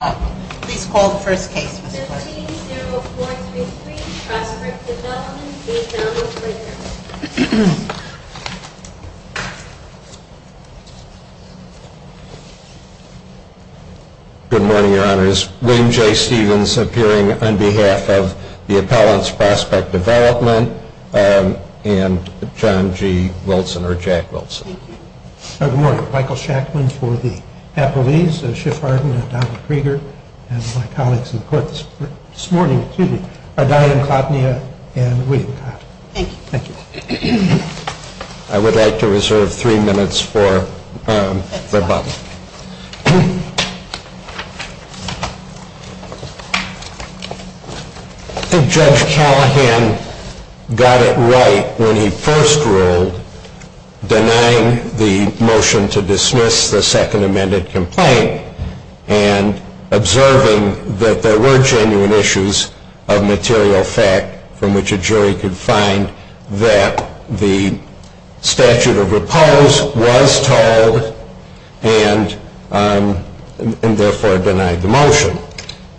Good morning, your honors. William J. Stevens appearing on behalf of the Appellants Prospect Development and John G. Wilson, or Jack Wilson. Michael Shackman for the Appellees, and my colleagues in court this morning. I would like to reserve three minutes for rebuttal. I think Judge Callahan got it right when he first ruled denying the motion to dismiss the second amended complaint and observing that there were genuine issues of material fact from which a jury could find that the statute of repose was told and therefore denied the motion.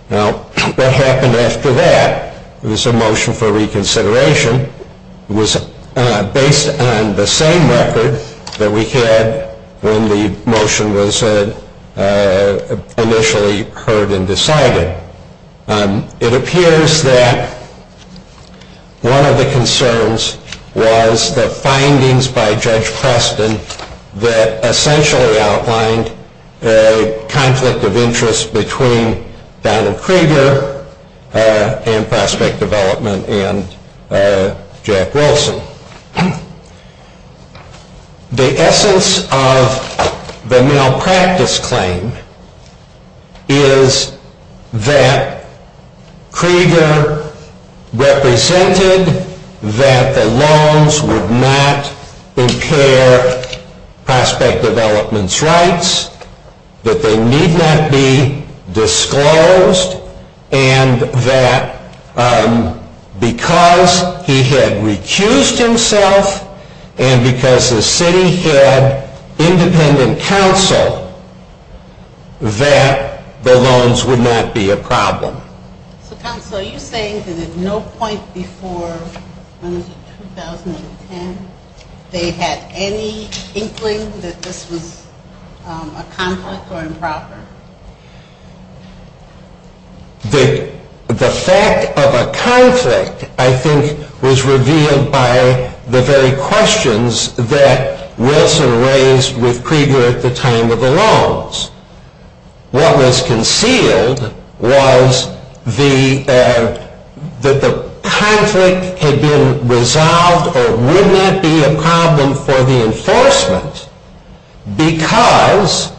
What happened after that was a motion for reconsideration. It was based on the same record that we had when the motion was initially heard and decided. It appears that one of the concerns was the findings by Judge Preston that essentially outlined a conflict of interest between Donald Kreger and Prospect Development and Jack Wilson. The essence of the malpractice claim is that Kreger represented that the loans would not impair Prospect Development's rights, that they need not be disclosed, and that because he had recused himself and because the city had independent counsel that the loans would not be a problem. So counsel, are you saying that at no point before 2010 they had any inkling that this was a conflict or improper? The fact of a conflict, I think, was revealed by the very questions that Wilson raised with Kreger at the time of the loans. What was concealed was that the conflict had been resolved or would not be a problem for the enforcement because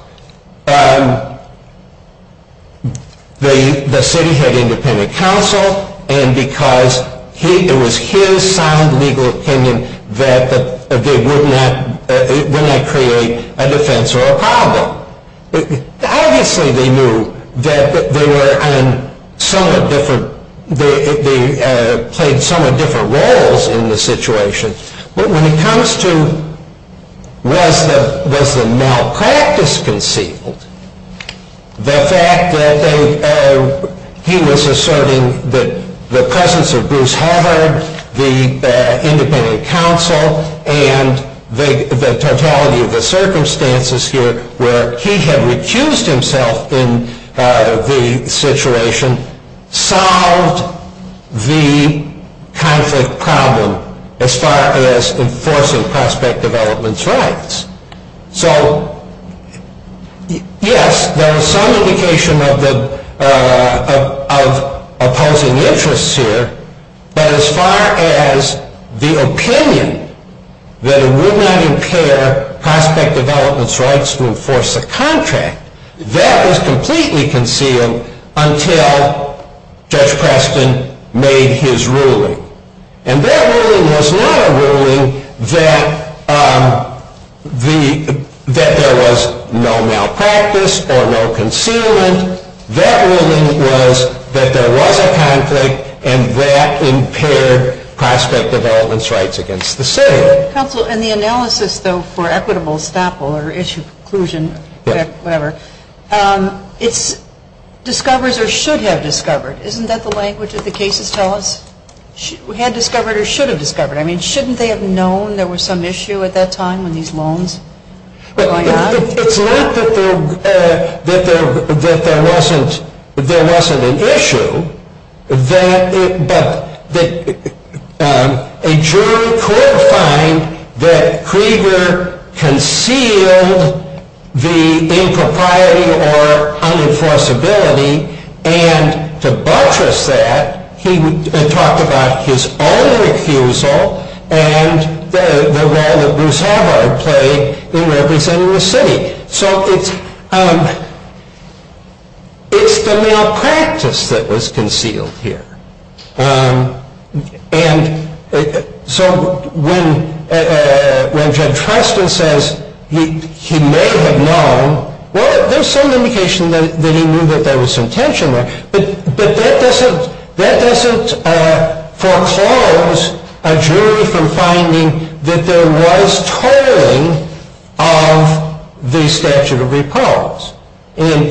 the city had independent counsel and because it was his sound legal opinion that it would not create a defense or a problem. Obviously, they knew that they played somewhat different roles in the situation, but when it comes to was the malpractice concealed, the fact that he was asserting that the presence of Bruce Harvard, the independent counsel, and the totality of the circumstances here where he had recused himself in the situation, solved the conflict problem as far as enforcing Prospect Development's rights. So yes, there was some indication of opposing interests here, but as far as the opinion that it would not impair Prospect Development's rights to enforce a contract, that was completely concealed until Judge Preston made his ruling. And that ruling was not a ruling that there was no malpractice or no concealment. That ruling was that there was a conflict and that impaired Prospect Development's rights against the city. Counsel, in the analysis, though, for equitable estoppel or issue preclusion, whatever, it discovers or should have discovered. Isn't that the language that the cases tell us? Had discovered or should have discovered. I mean, shouldn't they have known there was some issue at that time when these loans were going on? It's not that there wasn't an issue, but a jury could find that Krieger concealed the impropriety or unenforceability. And to buttress that, he talked about his own refusal and the role that Broussard had played in representing the city. So it's the malpractice that was concealed here. And so when Judge Preston says he may have known, well, there's some indication that he knew that there was some tension there. But that doesn't foreclose a jury from finding that there was tolling of the statute of repose. And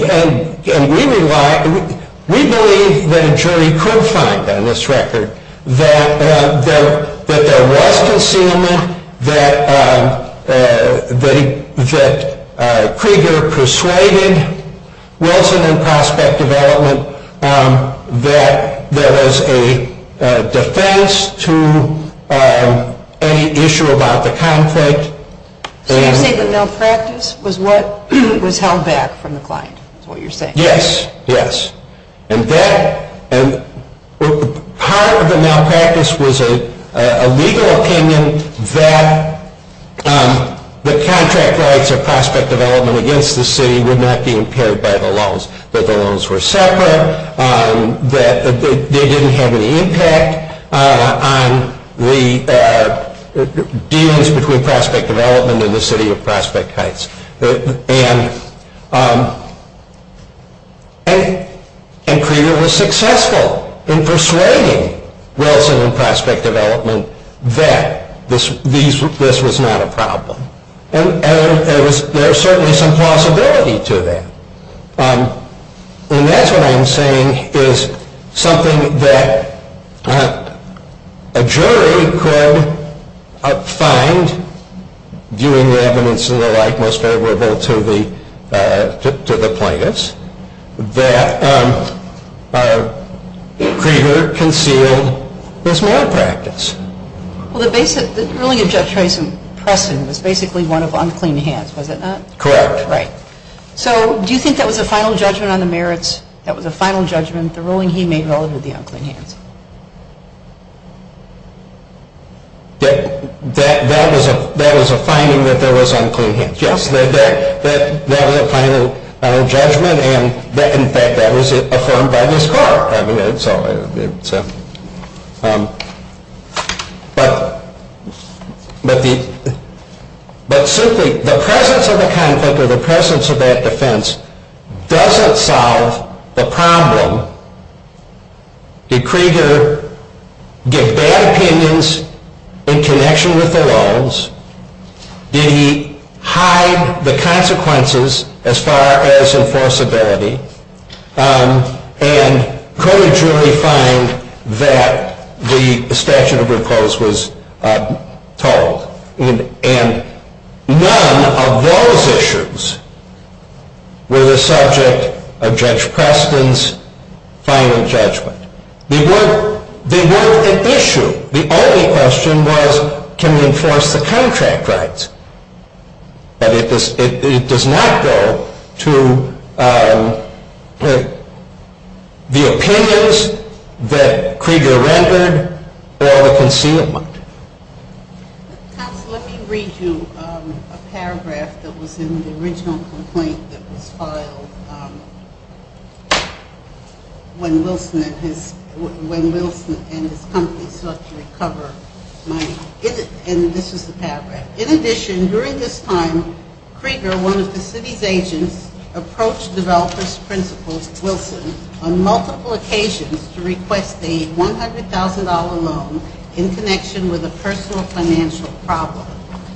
we believe that a jury could find on this record that there was concealment, that Krieger persuaded Wilson and Prospect Development that there was a defense to any issue about the conflict. So you're saying the malpractice was what was held back from the client, is what you're saying? Yes, yes. And part of the malpractice was a legal opinion that the contract rights of Prospect Development against the city would not be impaired by the loans. That the loans were separate, that they didn't have any impact on the dealings between Prospect Development and the city of Prospect Heights. And Krieger was successful in persuading Wilson and Prospect Development that this was not a problem. And there was certainly some possibility to that. And that's what I'm saying is something that a jury could find, viewing the evidence and the like most favorable to the plaintiffs, that Krieger concealed this malpractice. Well, the ruling of Judge Preston was basically one of unclean hands, was it not? Correct. Right. So do you think that was a final judgment on the merits, that was a final judgment, the ruling he made relative to the unclean hands? That was a finding that there was unclean hands, yes. That was a final judgment, and in fact that was affirmed by this court. I mean, that's all I can say. But simply the presence of the conflict or the presence of that defense doesn't solve the problem. Did Krieger give bad opinions in connection with the loans? Did he hide the consequences as far as enforceability? And could a jury find that the statute of recourse was told? And none of those issues were the subject of Judge Preston's final judgment. They weren't an issue. The only question was, can we enforce the contract rights? But it does not go to the opinions that Krieger rendered or the concealment. Counsel, let me read you a paragraph that was in the original complaint that was filed when Wilson and his company sought to recover money. And this is the paragraph. In addition, during this time, Krieger, one of the city's agents, approached developers' principal, Wilson, on multiple occasions to request a $100,000 loan in connection with a personal financial problem.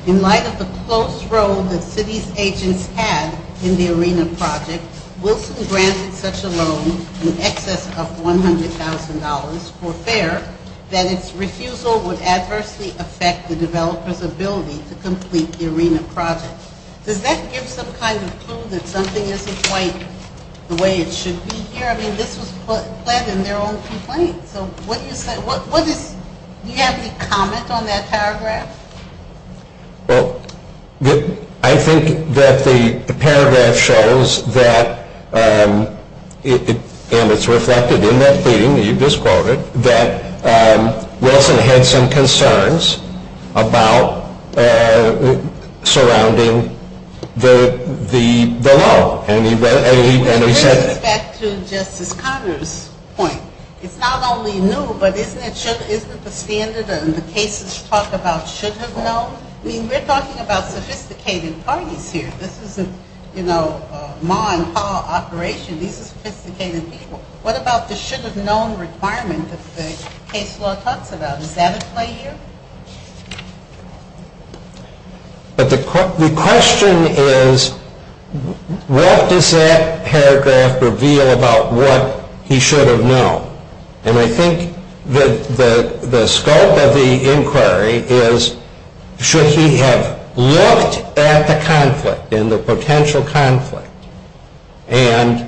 In light of the close role that city's agents had in the arena project, Wilson granted such a loan in excess of $100,000 for fare that its refusal would adversely affect the developer's ability to complete the arena project. Does that give some kind of clue that something isn't quite the way it should be here? I mean, this was pled in their own complaint. So what do you say? Do you have any comment on that paragraph? Well, I think that the paragraph shows that, and it's reflected in that pleading that you've just quoted, that Wilson had some concerns about surrounding the loan. And he said... It brings us back to Justice Conner's point. It's not only new, but isn't it the standard that the cases talk about should have known? I mean, we're talking about sophisticated parties here. This isn't, you know, a ma and pa operation. These are sophisticated people. What about the should have known requirement that the case law talks about? Is that at play here? But the question is, what does that paragraph reveal about what he should have known? And I think that the scope of the inquiry is, should he have looked at the conflict and the potential conflict? And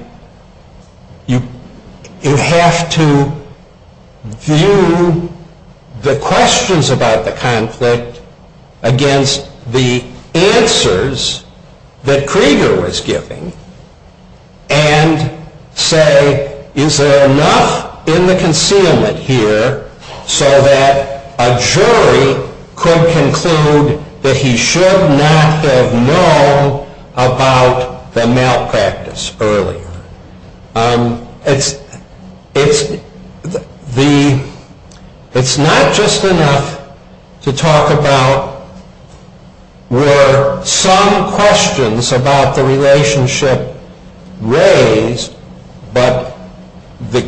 you have to view the questions about the conflict against the answers that Krieger was giving and say, is there enough in the concealment here so that a jury could conclude that he should not have known about the malpractice earlier? It's not just enough to talk about were some questions about the relationship raised, but the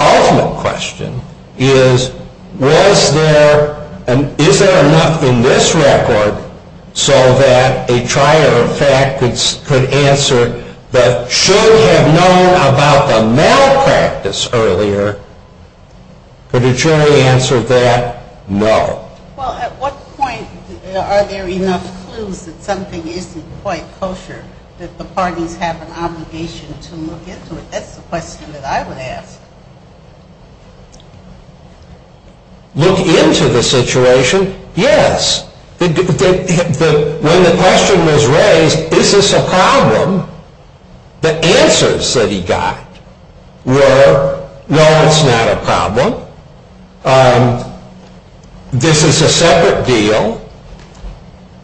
ultimate question is, is there enough in this record so that a trier of fact could answer that should have known about the malpractice earlier? Could a jury answer that? No. Well, at what point are there enough clues that something isn't quite kosher that the parties have an obligation to look into it? That's the question that I would ask. Look into the situation? Yes. When the question was raised, is this a problem? The answers that he got were, no, it's not a problem. This is a separate deal.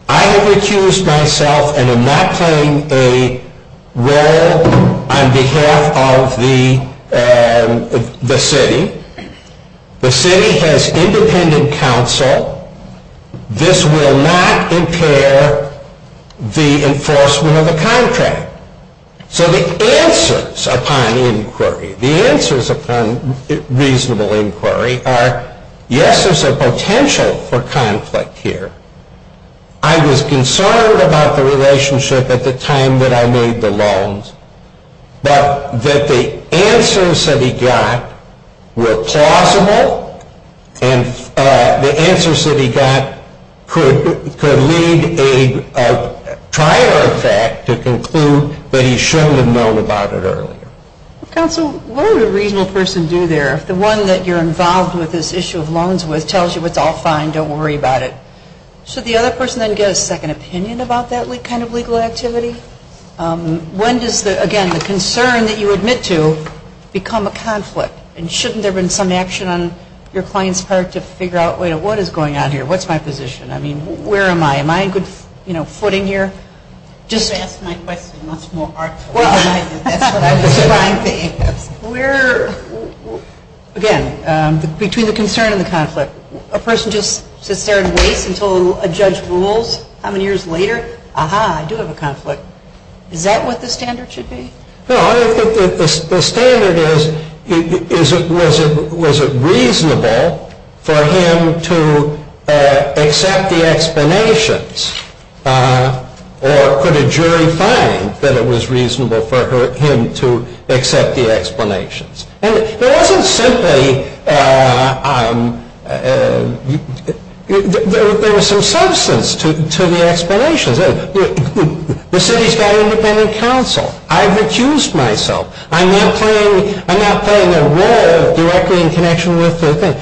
I have recused myself and am not playing a role on behalf of the city. The city has independent counsel. This will not impair the enforcement of the contract. So the answers upon inquiry, the answers upon reasonable inquiry are, yes, there's a potential for conflict here. I was concerned about the relationship at the time that I made the loans, but that the answers that he got were plausible and the answers that he got could lead a trier of fact to conclude that he shouldn't have known about it earlier. Counsel, what would a reasonable person do there if the one that you're involved with this issue of loans with tells you it's all fine, don't worry about it? Should the other person then get a second opinion about that kind of legal activity? When does, again, the concern that you admit to become a conflict? And shouldn't there have been some action on your client's part to figure out, wait a minute, what is going on here? What's my position? I mean, where am I? Am I in good footing here? You've asked my question much more artfully than I did. Again, between the concern and the conflict, a person just sits there and waits until a judge rules? How many years later? Aha, I do have a conflict. Is that what the standard should be? No, I think the standard is, was it reasonable for him to accept the explanations or could a jury find that it was reasonable for him to accept the explanations? And there wasn't simply, there was some substance to the explanations. The city's got an independent counsel. I've accused myself. I'm not playing a role directly in connection with the thing.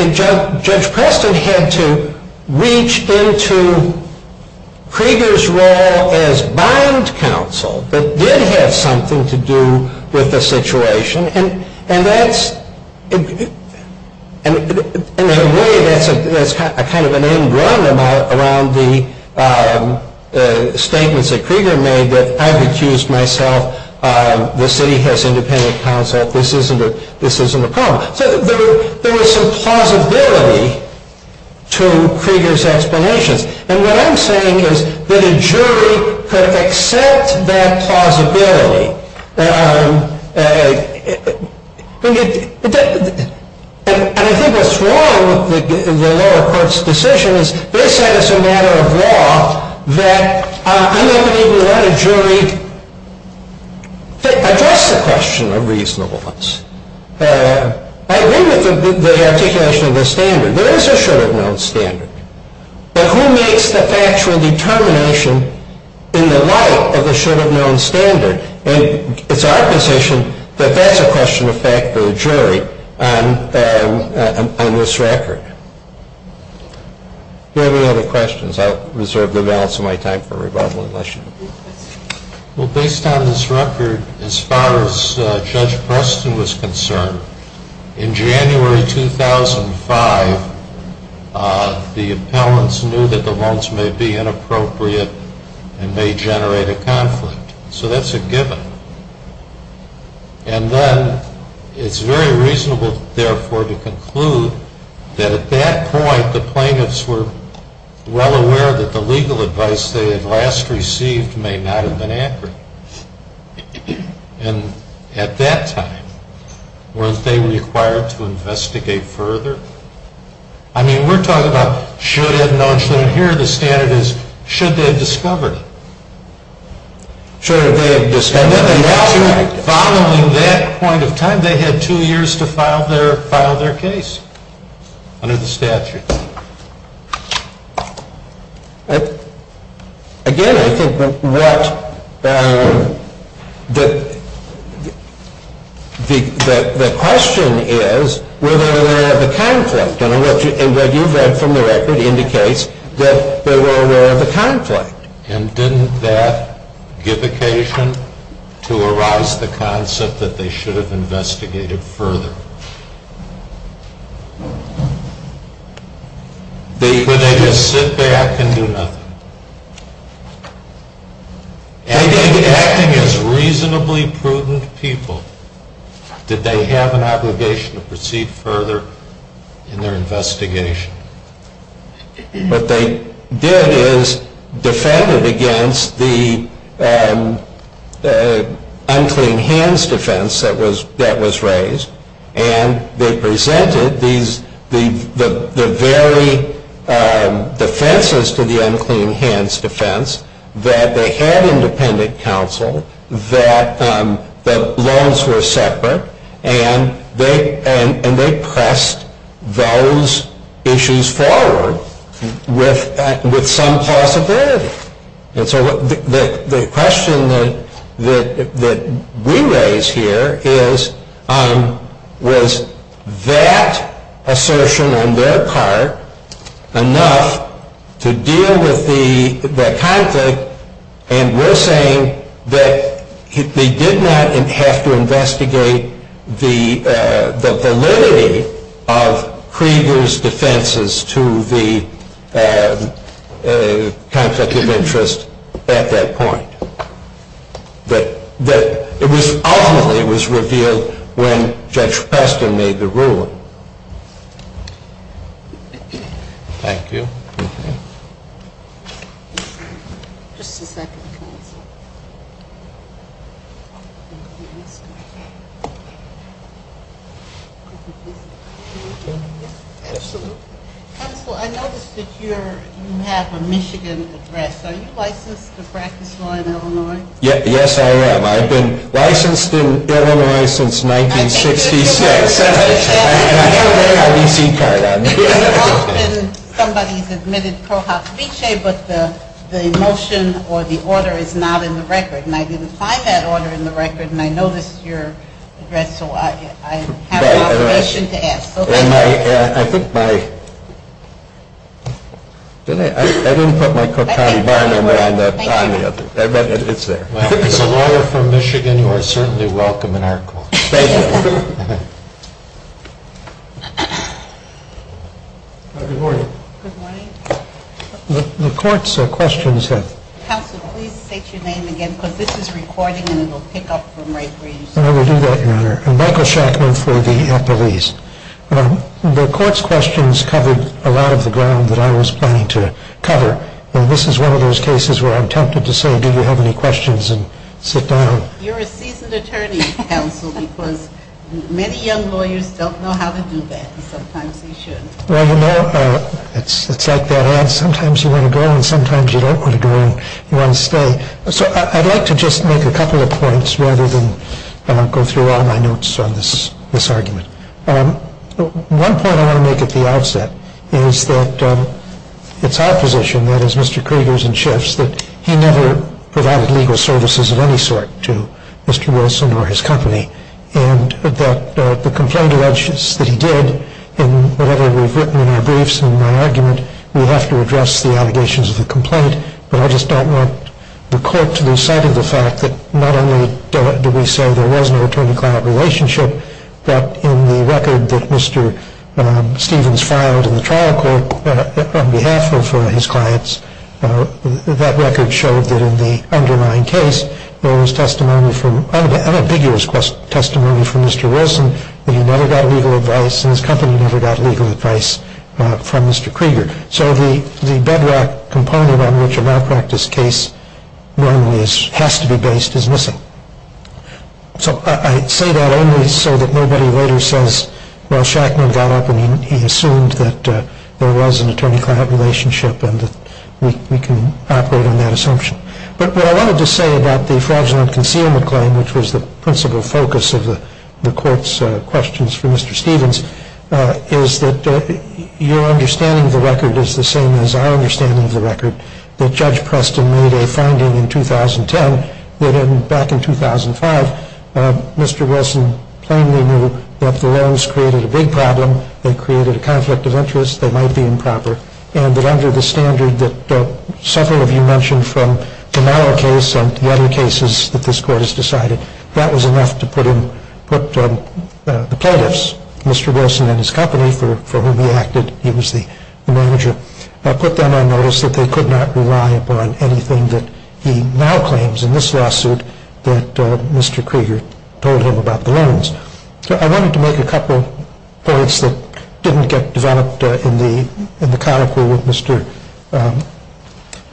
And Judge Preston had to reach into Krieger's role as bond counsel that did have something to do with the situation. And that's, in a way, that's kind of an end run around the statements that Krieger made that I've accused myself. The city has independent counsel. This isn't a problem. So there was some plausibility to Krieger's explanations. And what I'm saying is that a jury could accept that plausibility. And I think what's wrong with the lower court's decision is they said as a matter of law that I never even let a jury address the question of reasonableness. I agree with the articulation of the standard. There is a should-have-known standard. But who makes the factual determination in the light of the should-have-known standard? And it's our position that that's a question of fact for the jury on this record. Do you have any other questions? I'll reserve the balance of my time for rebuttal unless you do. Well, based on this record, as far as Judge Preston was concerned, in January 2005, the appellants knew that the loans may be inappropriate and may generate a conflict. So that's a given. And then it's very reasonable, therefore, to conclude that at that point, the plaintiffs were well aware that the legal advice they had last received may not have been accurate. And at that time, weren't they required to investigate further? I mean, we're talking about should-have-known standard. Here the standard is should they have discovered it. Sure, they have discovered it. And then the statute, following that point of time, they had two years to file their case under the statute. Again, I think what the question is, were they aware of the conflict? And what you've read from the record indicates that they were aware of the conflict. And didn't that give occasion to arise the concept that they should have investigated further? Or did they just sit back and do nothing? Acting as reasonably prudent people, did they have an obligation to proceed further in their investigation? What they did is defended against the unclean hands defense that was raised. And they presented the very defenses to the unclean hands defense that they had independent counsel, that the loans were separate. And they pressed those issues forward with some possibility. And so the question that we raise here is, was that assertion on their part enough to deal with the conflict? And we're saying that they did not have to investigate the validity of Krieger's defenses to the conflict of interest at that point. Ultimately it was revealed when Judge Preston made the ruling. Thank you. Counsel, I noticed that you have a Michigan address. Are you licensed to practice law in Illinois? Yes, I am. I've been licensed in Illinois since 1966. And I have an AIDC card on me. Often somebody's admitted pro hofpeche, but the motion or the order is not in the record. And I didn't find that order in the record. And I noticed your address, so I have an obligation to ask. So thank you. I think my – I didn't put my Cochran Bar number on the other. But it's there. As a lawyer from Michigan, you are certainly welcome in our court. Thank you. Good morning. Good morning. The court's questions have – Counsel, please state your name again because this is recording and it will pick up from right where you stood. I will do that, Your Honor. I'm Michael Shackman for the police. The court's questions covered a lot of the ground that I was planning to cover. And this is one of those cases where I'm tempted to say, do you have any questions and sit down. You're a seasoned attorney, Counsel, because many young lawyers don't know how to do that and sometimes they should. Well, you know, it's like that ad, sometimes you want to go and sometimes you don't want to go and you want to stay. So I'd like to just make a couple of points rather than go through all my notes on this argument. One point I want to make at the outset is that it's our position, that is Mr. Krieger's and Schiff's, that he never provided legal services of any sort to Mr. Wilson or his company. And that the complaint alleges that he did, and whatever we've written in our briefs and in my argument, we have to address the allegations of the complaint. But I just don't want the court to lose sight of the fact that not only do we say there was no attorney-client relationship, but in the record that Mr. Stevens filed in the trial court on behalf of his clients, that record showed that in the underlying case there was unambiguous testimony from Mr. Wilson that he never got legal advice and his company never got legal advice from Mr. Krieger. So the bedrock component on which a malpractice case normally has to be based is missing. So I say that only so that nobody later says, well, Shackman got up and he assumed that there was an attorney-client relationship and that we can operate on that assumption. But what I wanted to say about the fraudulent concealment claim, which was the principal focus of the court's questions for Mr. Stevens, is that your understanding of the record is the same as our understanding of the record, that Judge Preston made a finding in 2010 that back in 2005, Mr. Wilson plainly knew that the loans created a big problem, they created a conflict of interest, they might be improper, and that under the standard that several of you mentioned from the Mauer case and the other cases that this court has decided, that was enough to put the plaintiffs, Mr. Wilson and his company for whom he acted, he was the manager, put them on notice that they could not rely upon anything that he now claims in this lawsuit that Mr. Krieger told him about the loans. I wanted to make a couple of points that didn't get developed in the conical with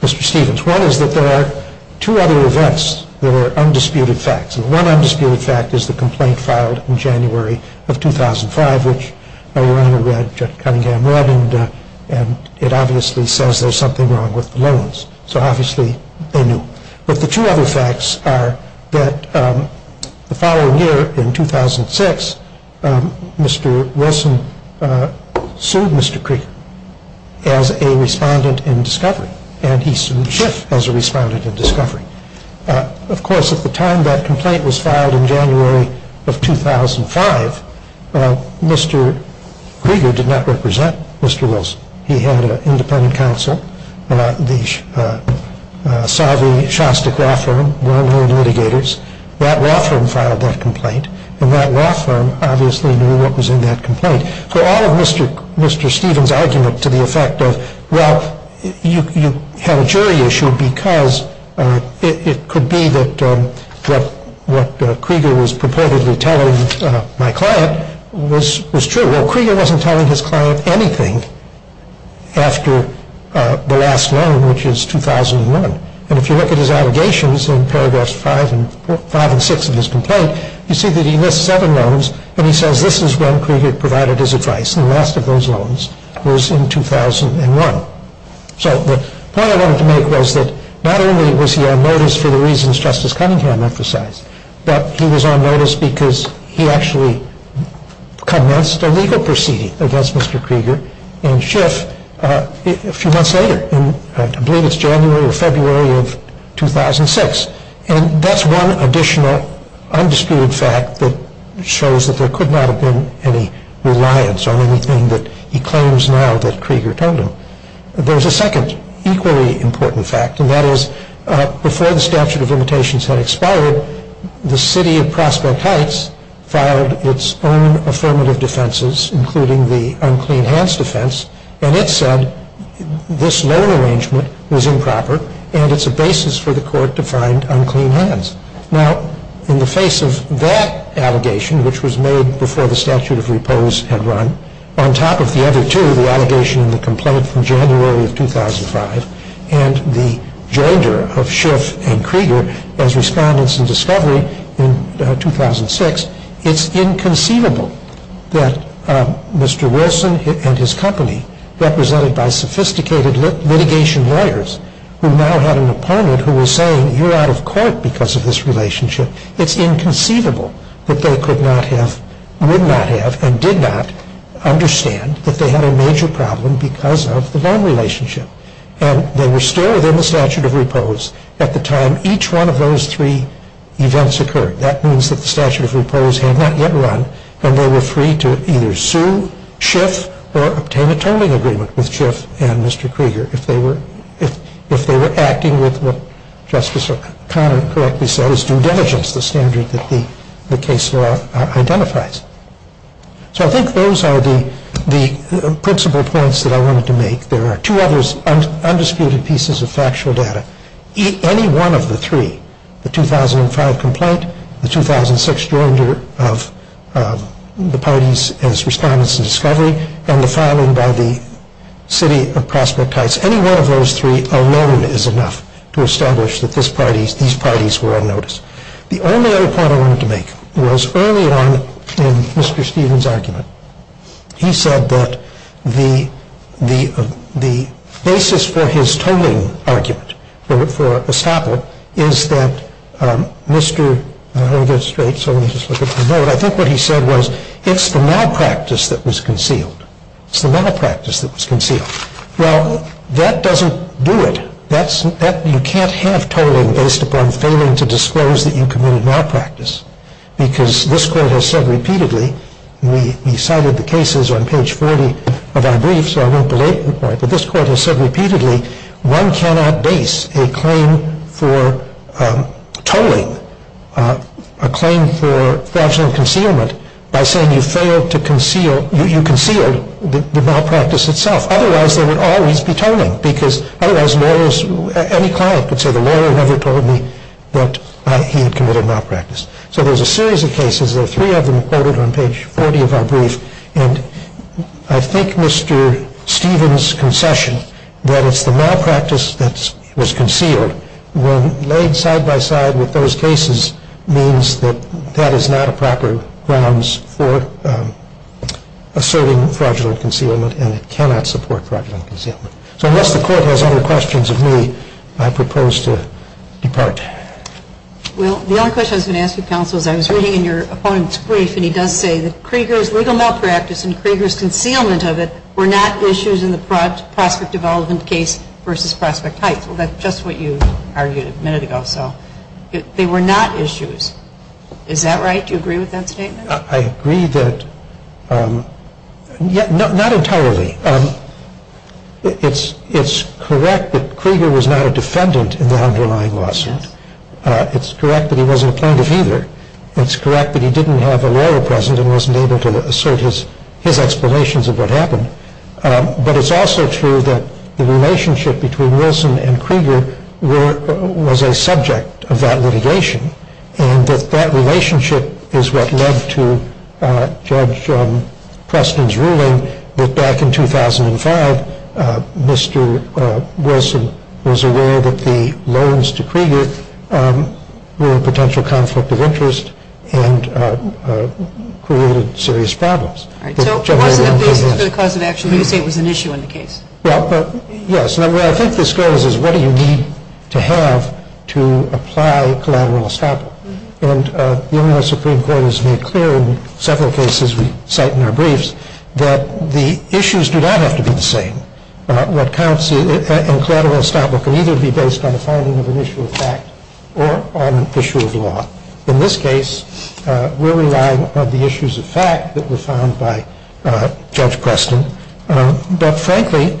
Mr. Stevens. One is that there are two other events that are undisputed facts. One undisputed fact is the complaint filed in January of 2005, which Your Honor read, Judge Cunningham read, and it obviously says there's something wrong with the loans, so obviously they knew. But the two other facts are that the following year, in 2006, Mr. Wilson sued Mr. Krieger as a respondent in discovery, and he sued Schiff as a respondent in discovery. Of course, at the time that complaint was filed in January of 2005, Mr. Krieger did not represent Mr. Wilson. He had an independent counsel, the savvy Shostak law firm, well-known litigators. That law firm filed that complaint, and that law firm obviously knew what was in that complaint. So all of Mr. Stevens' argument to the effect of, well, you have a jury issue because it could be that what Krieger was purportedly telling my client was true. Well, Krieger wasn't telling his client anything after the last loan, which is 2001. And if you look at his allegations in paragraphs 5 and 6 of his complaint, you see that he missed seven loans, and he says this is when Krieger provided his advice, and the last of those loans was in 2001. So the point I wanted to make was that not only was he on notice for the reasons Justice Cunningham emphasized, but he was on notice because he actually commenced a legal proceeding against Mr. Krieger and Schiff a few months later. I believe it's January or February of 2006, and that's one additional undisputed fact that shows that there could not have been any reliance on anything that he claims now that Krieger told him. There's a second equally important fact, and that is before the statute of limitations had expired, the city of Prospect Heights filed its own affirmative defenses, including the unclean hands defense, and it said this loan arrangement was improper and it's a basis for the court to find unclean hands. Now, in the face of that allegation, which was made before the statute of repose had run, on top of the other two, the allegation and the complaint from January of 2005, and the joinder of Schiff and Krieger as respondents in discovery in 2006, it's inconceivable that Mr. Wilson and his company, represented by sophisticated litigation lawyers, who now had an opponent who was saying, you're out of court because of this relationship, it's inconceivable that they could not have, would not have, and did not understand that they had a major problem because of the loan relationship. And they were still within the statute of repose at the time each one of those three events occurred. That means that the statute of repose had not yet run, and they were free to either sue Schiff or obtain a terming agreement with Schiff and Mr. Krieger if they were acting with what Justice O'Connor correctly said is due diligence, the standard that the case law identifies. So I think those are the principal points that I wanted to make. There are two others undisputed pieces of factual data. Any one of the three, the 2005 complaint, the 2006 joinder of the parties as respondents in discovery, and the filing by the city of Prospect Heights, any one of those three alone is enough to establish that these parties were on notice. The only other point I wanted to make was early on in Mr. Stevens' argument. He said that the basis for his tolling argument, for estoppel, is that Mr. I think what he said was it's the malpractice that was concealed. It's the malpractice that was concealed. Well, that doesn't do it. You can't have tolling based upon failing to disclose that you committed malpractice. Because this court has said repeatedly, and we cited the cases on page 40 of our brief, so I won't belabor the point, but this court has said repeatedly, one cannot base a claim for tolling, a claim for fraudulent concealment, by saying you failed to conceal, you concealed the malpractice itself. Otherwise, there would always be tolling. Because otherwise lawyers, any client could say the lawyer never told me that he had committed malpractice. So there's a series of cases. There are three of them quoted on page 40 of our brief. And I think Mr. Stevens' concession that it's the malpractice that was concealed, when laid side by side with those cases, means that that is not a proper grounds for asserting fraudulent concealment, and it cannot support fraudulent concealment. So unless the court has other questions of me, I propose to depart. Well, the only question I was going to ask you, Counsel, is I was reading in your opponent's brief, and he does say that Krieger's legal malpractice and Krieger's concealment of it were not issues in the Prospect Development case versus Prospect Heights. Well, that's just what you argued a minute ago, so they were not issues. Is that right? Do you agree with that statement? I agree that, not entirely. It's correct that Krieger was not a defendant in the underlying lawsuit. It's correct that he wasn't a plaintiff either. It's correct that he didn't have a lawyer present and wasn't able to assert his explanations of what happened. But it's also true that the relationship between Wilson and Krieger was a subject of that litigation, that back in 2005, Mr. Wilson was aware that the loans to Krieger were a potential conflict of interest and created serious problems. So it wasn't a basis for the cause of action. You say it was an issue in the case. Well, yes. Now, where I think this goes is what do you need to have to apply collateral establishment? And the U.S. Supreme Court has made clear in several cases we cite in our briefs that the issues do not have to be the same. What counts in collateral establishment can either be based on a finding of an issue of fact or on an issue of law. In this case, we're relying on the issues of fact that were found by Judge Preston. But, frankly,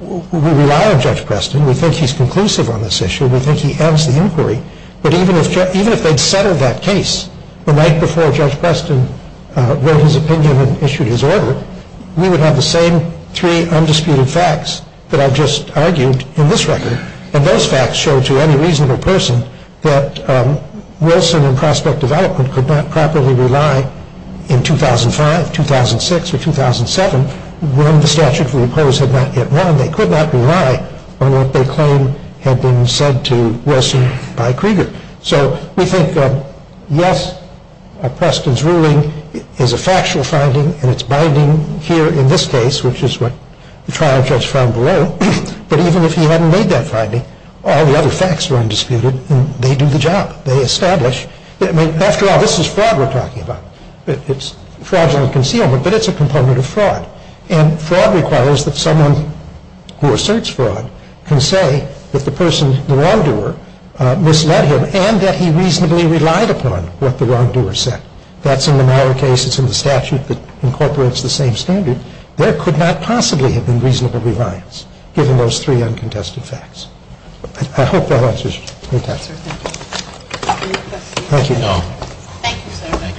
we rely on Judge Preston. We think he's conclusive on this issue. We think he ends the inquiry. But even if they'd settled that case the night before Judge Preston wrote his opinion and issued his order, we would have the same three undisputed facts that I've just argued in this record. And those facts show to any reasonable person that Wilson and Prospect Development could not properly rely in 2005, 2006, or 2007 when the statute of the opposed had not yet won. They could not rely on what they claim had been said to Wilson by Krieger. So we think, yes, Preston's ruling is a factual finding, and it's binding here in this case, which is what the trial judge found below. But even if he hadn't made that finding, all the other facts are undisputed, and they do the job. They establish. I mean, after all, this is fraud we're talking about. It's fraudulent concealment, but it's a component of fraud. And fraud requires that someone who asserts fraud can say that the person, the wrongdoer, misled him and that he reasonably relied upon what the wrongdoer said. That's in the Meyer case. It's in the statute that incorporates the same standard. There could not possibly have been reasonable reliance given those three uncontested facts. I hope that answers your question. Thank you. Thank you, sir.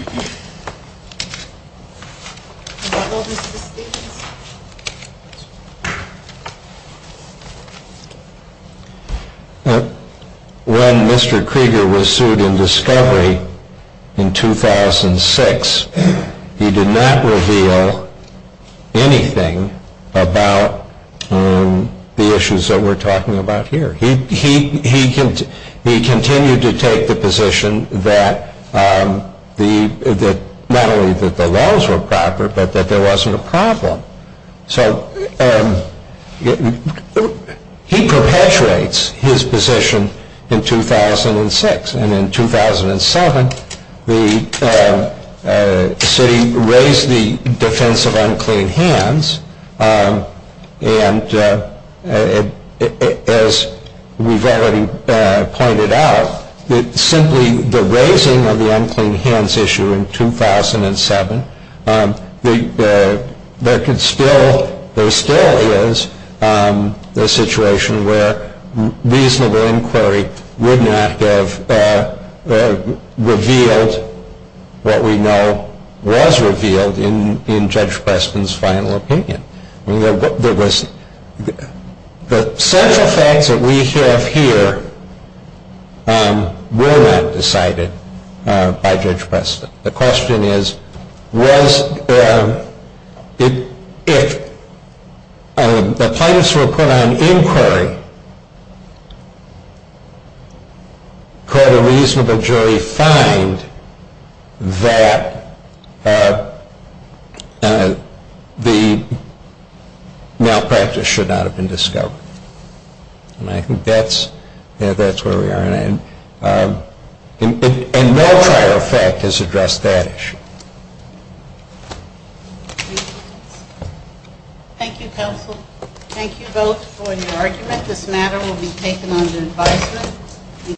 When Mr. Krieger was sued in discovery in 2006, he did not reveal anything about the issues that we're talking about here. He continued to take the position that not only that the laws were proper, but that there wasn't a problem. So he perpetuates his position in 2006. And in 2007, the city raised the defense of unclean hands. And as we've already pointed out, simply the raising of the unclean hands issue in 2007, there still is a situation where reasonable inquiry would not have revealed what we know was revealed in Judge Preston's final opinion. The central facts that we have here were not decided by Judge Preston. The question is, if the plaintiffs were put on inquiry, could a reasonable jury find that the malpractice should not have been discovered? And I think that's where we are. And no prior fact has addressed that issue. Thank you, counsel. Thank you both for your argument. This matter will be taken under advisement.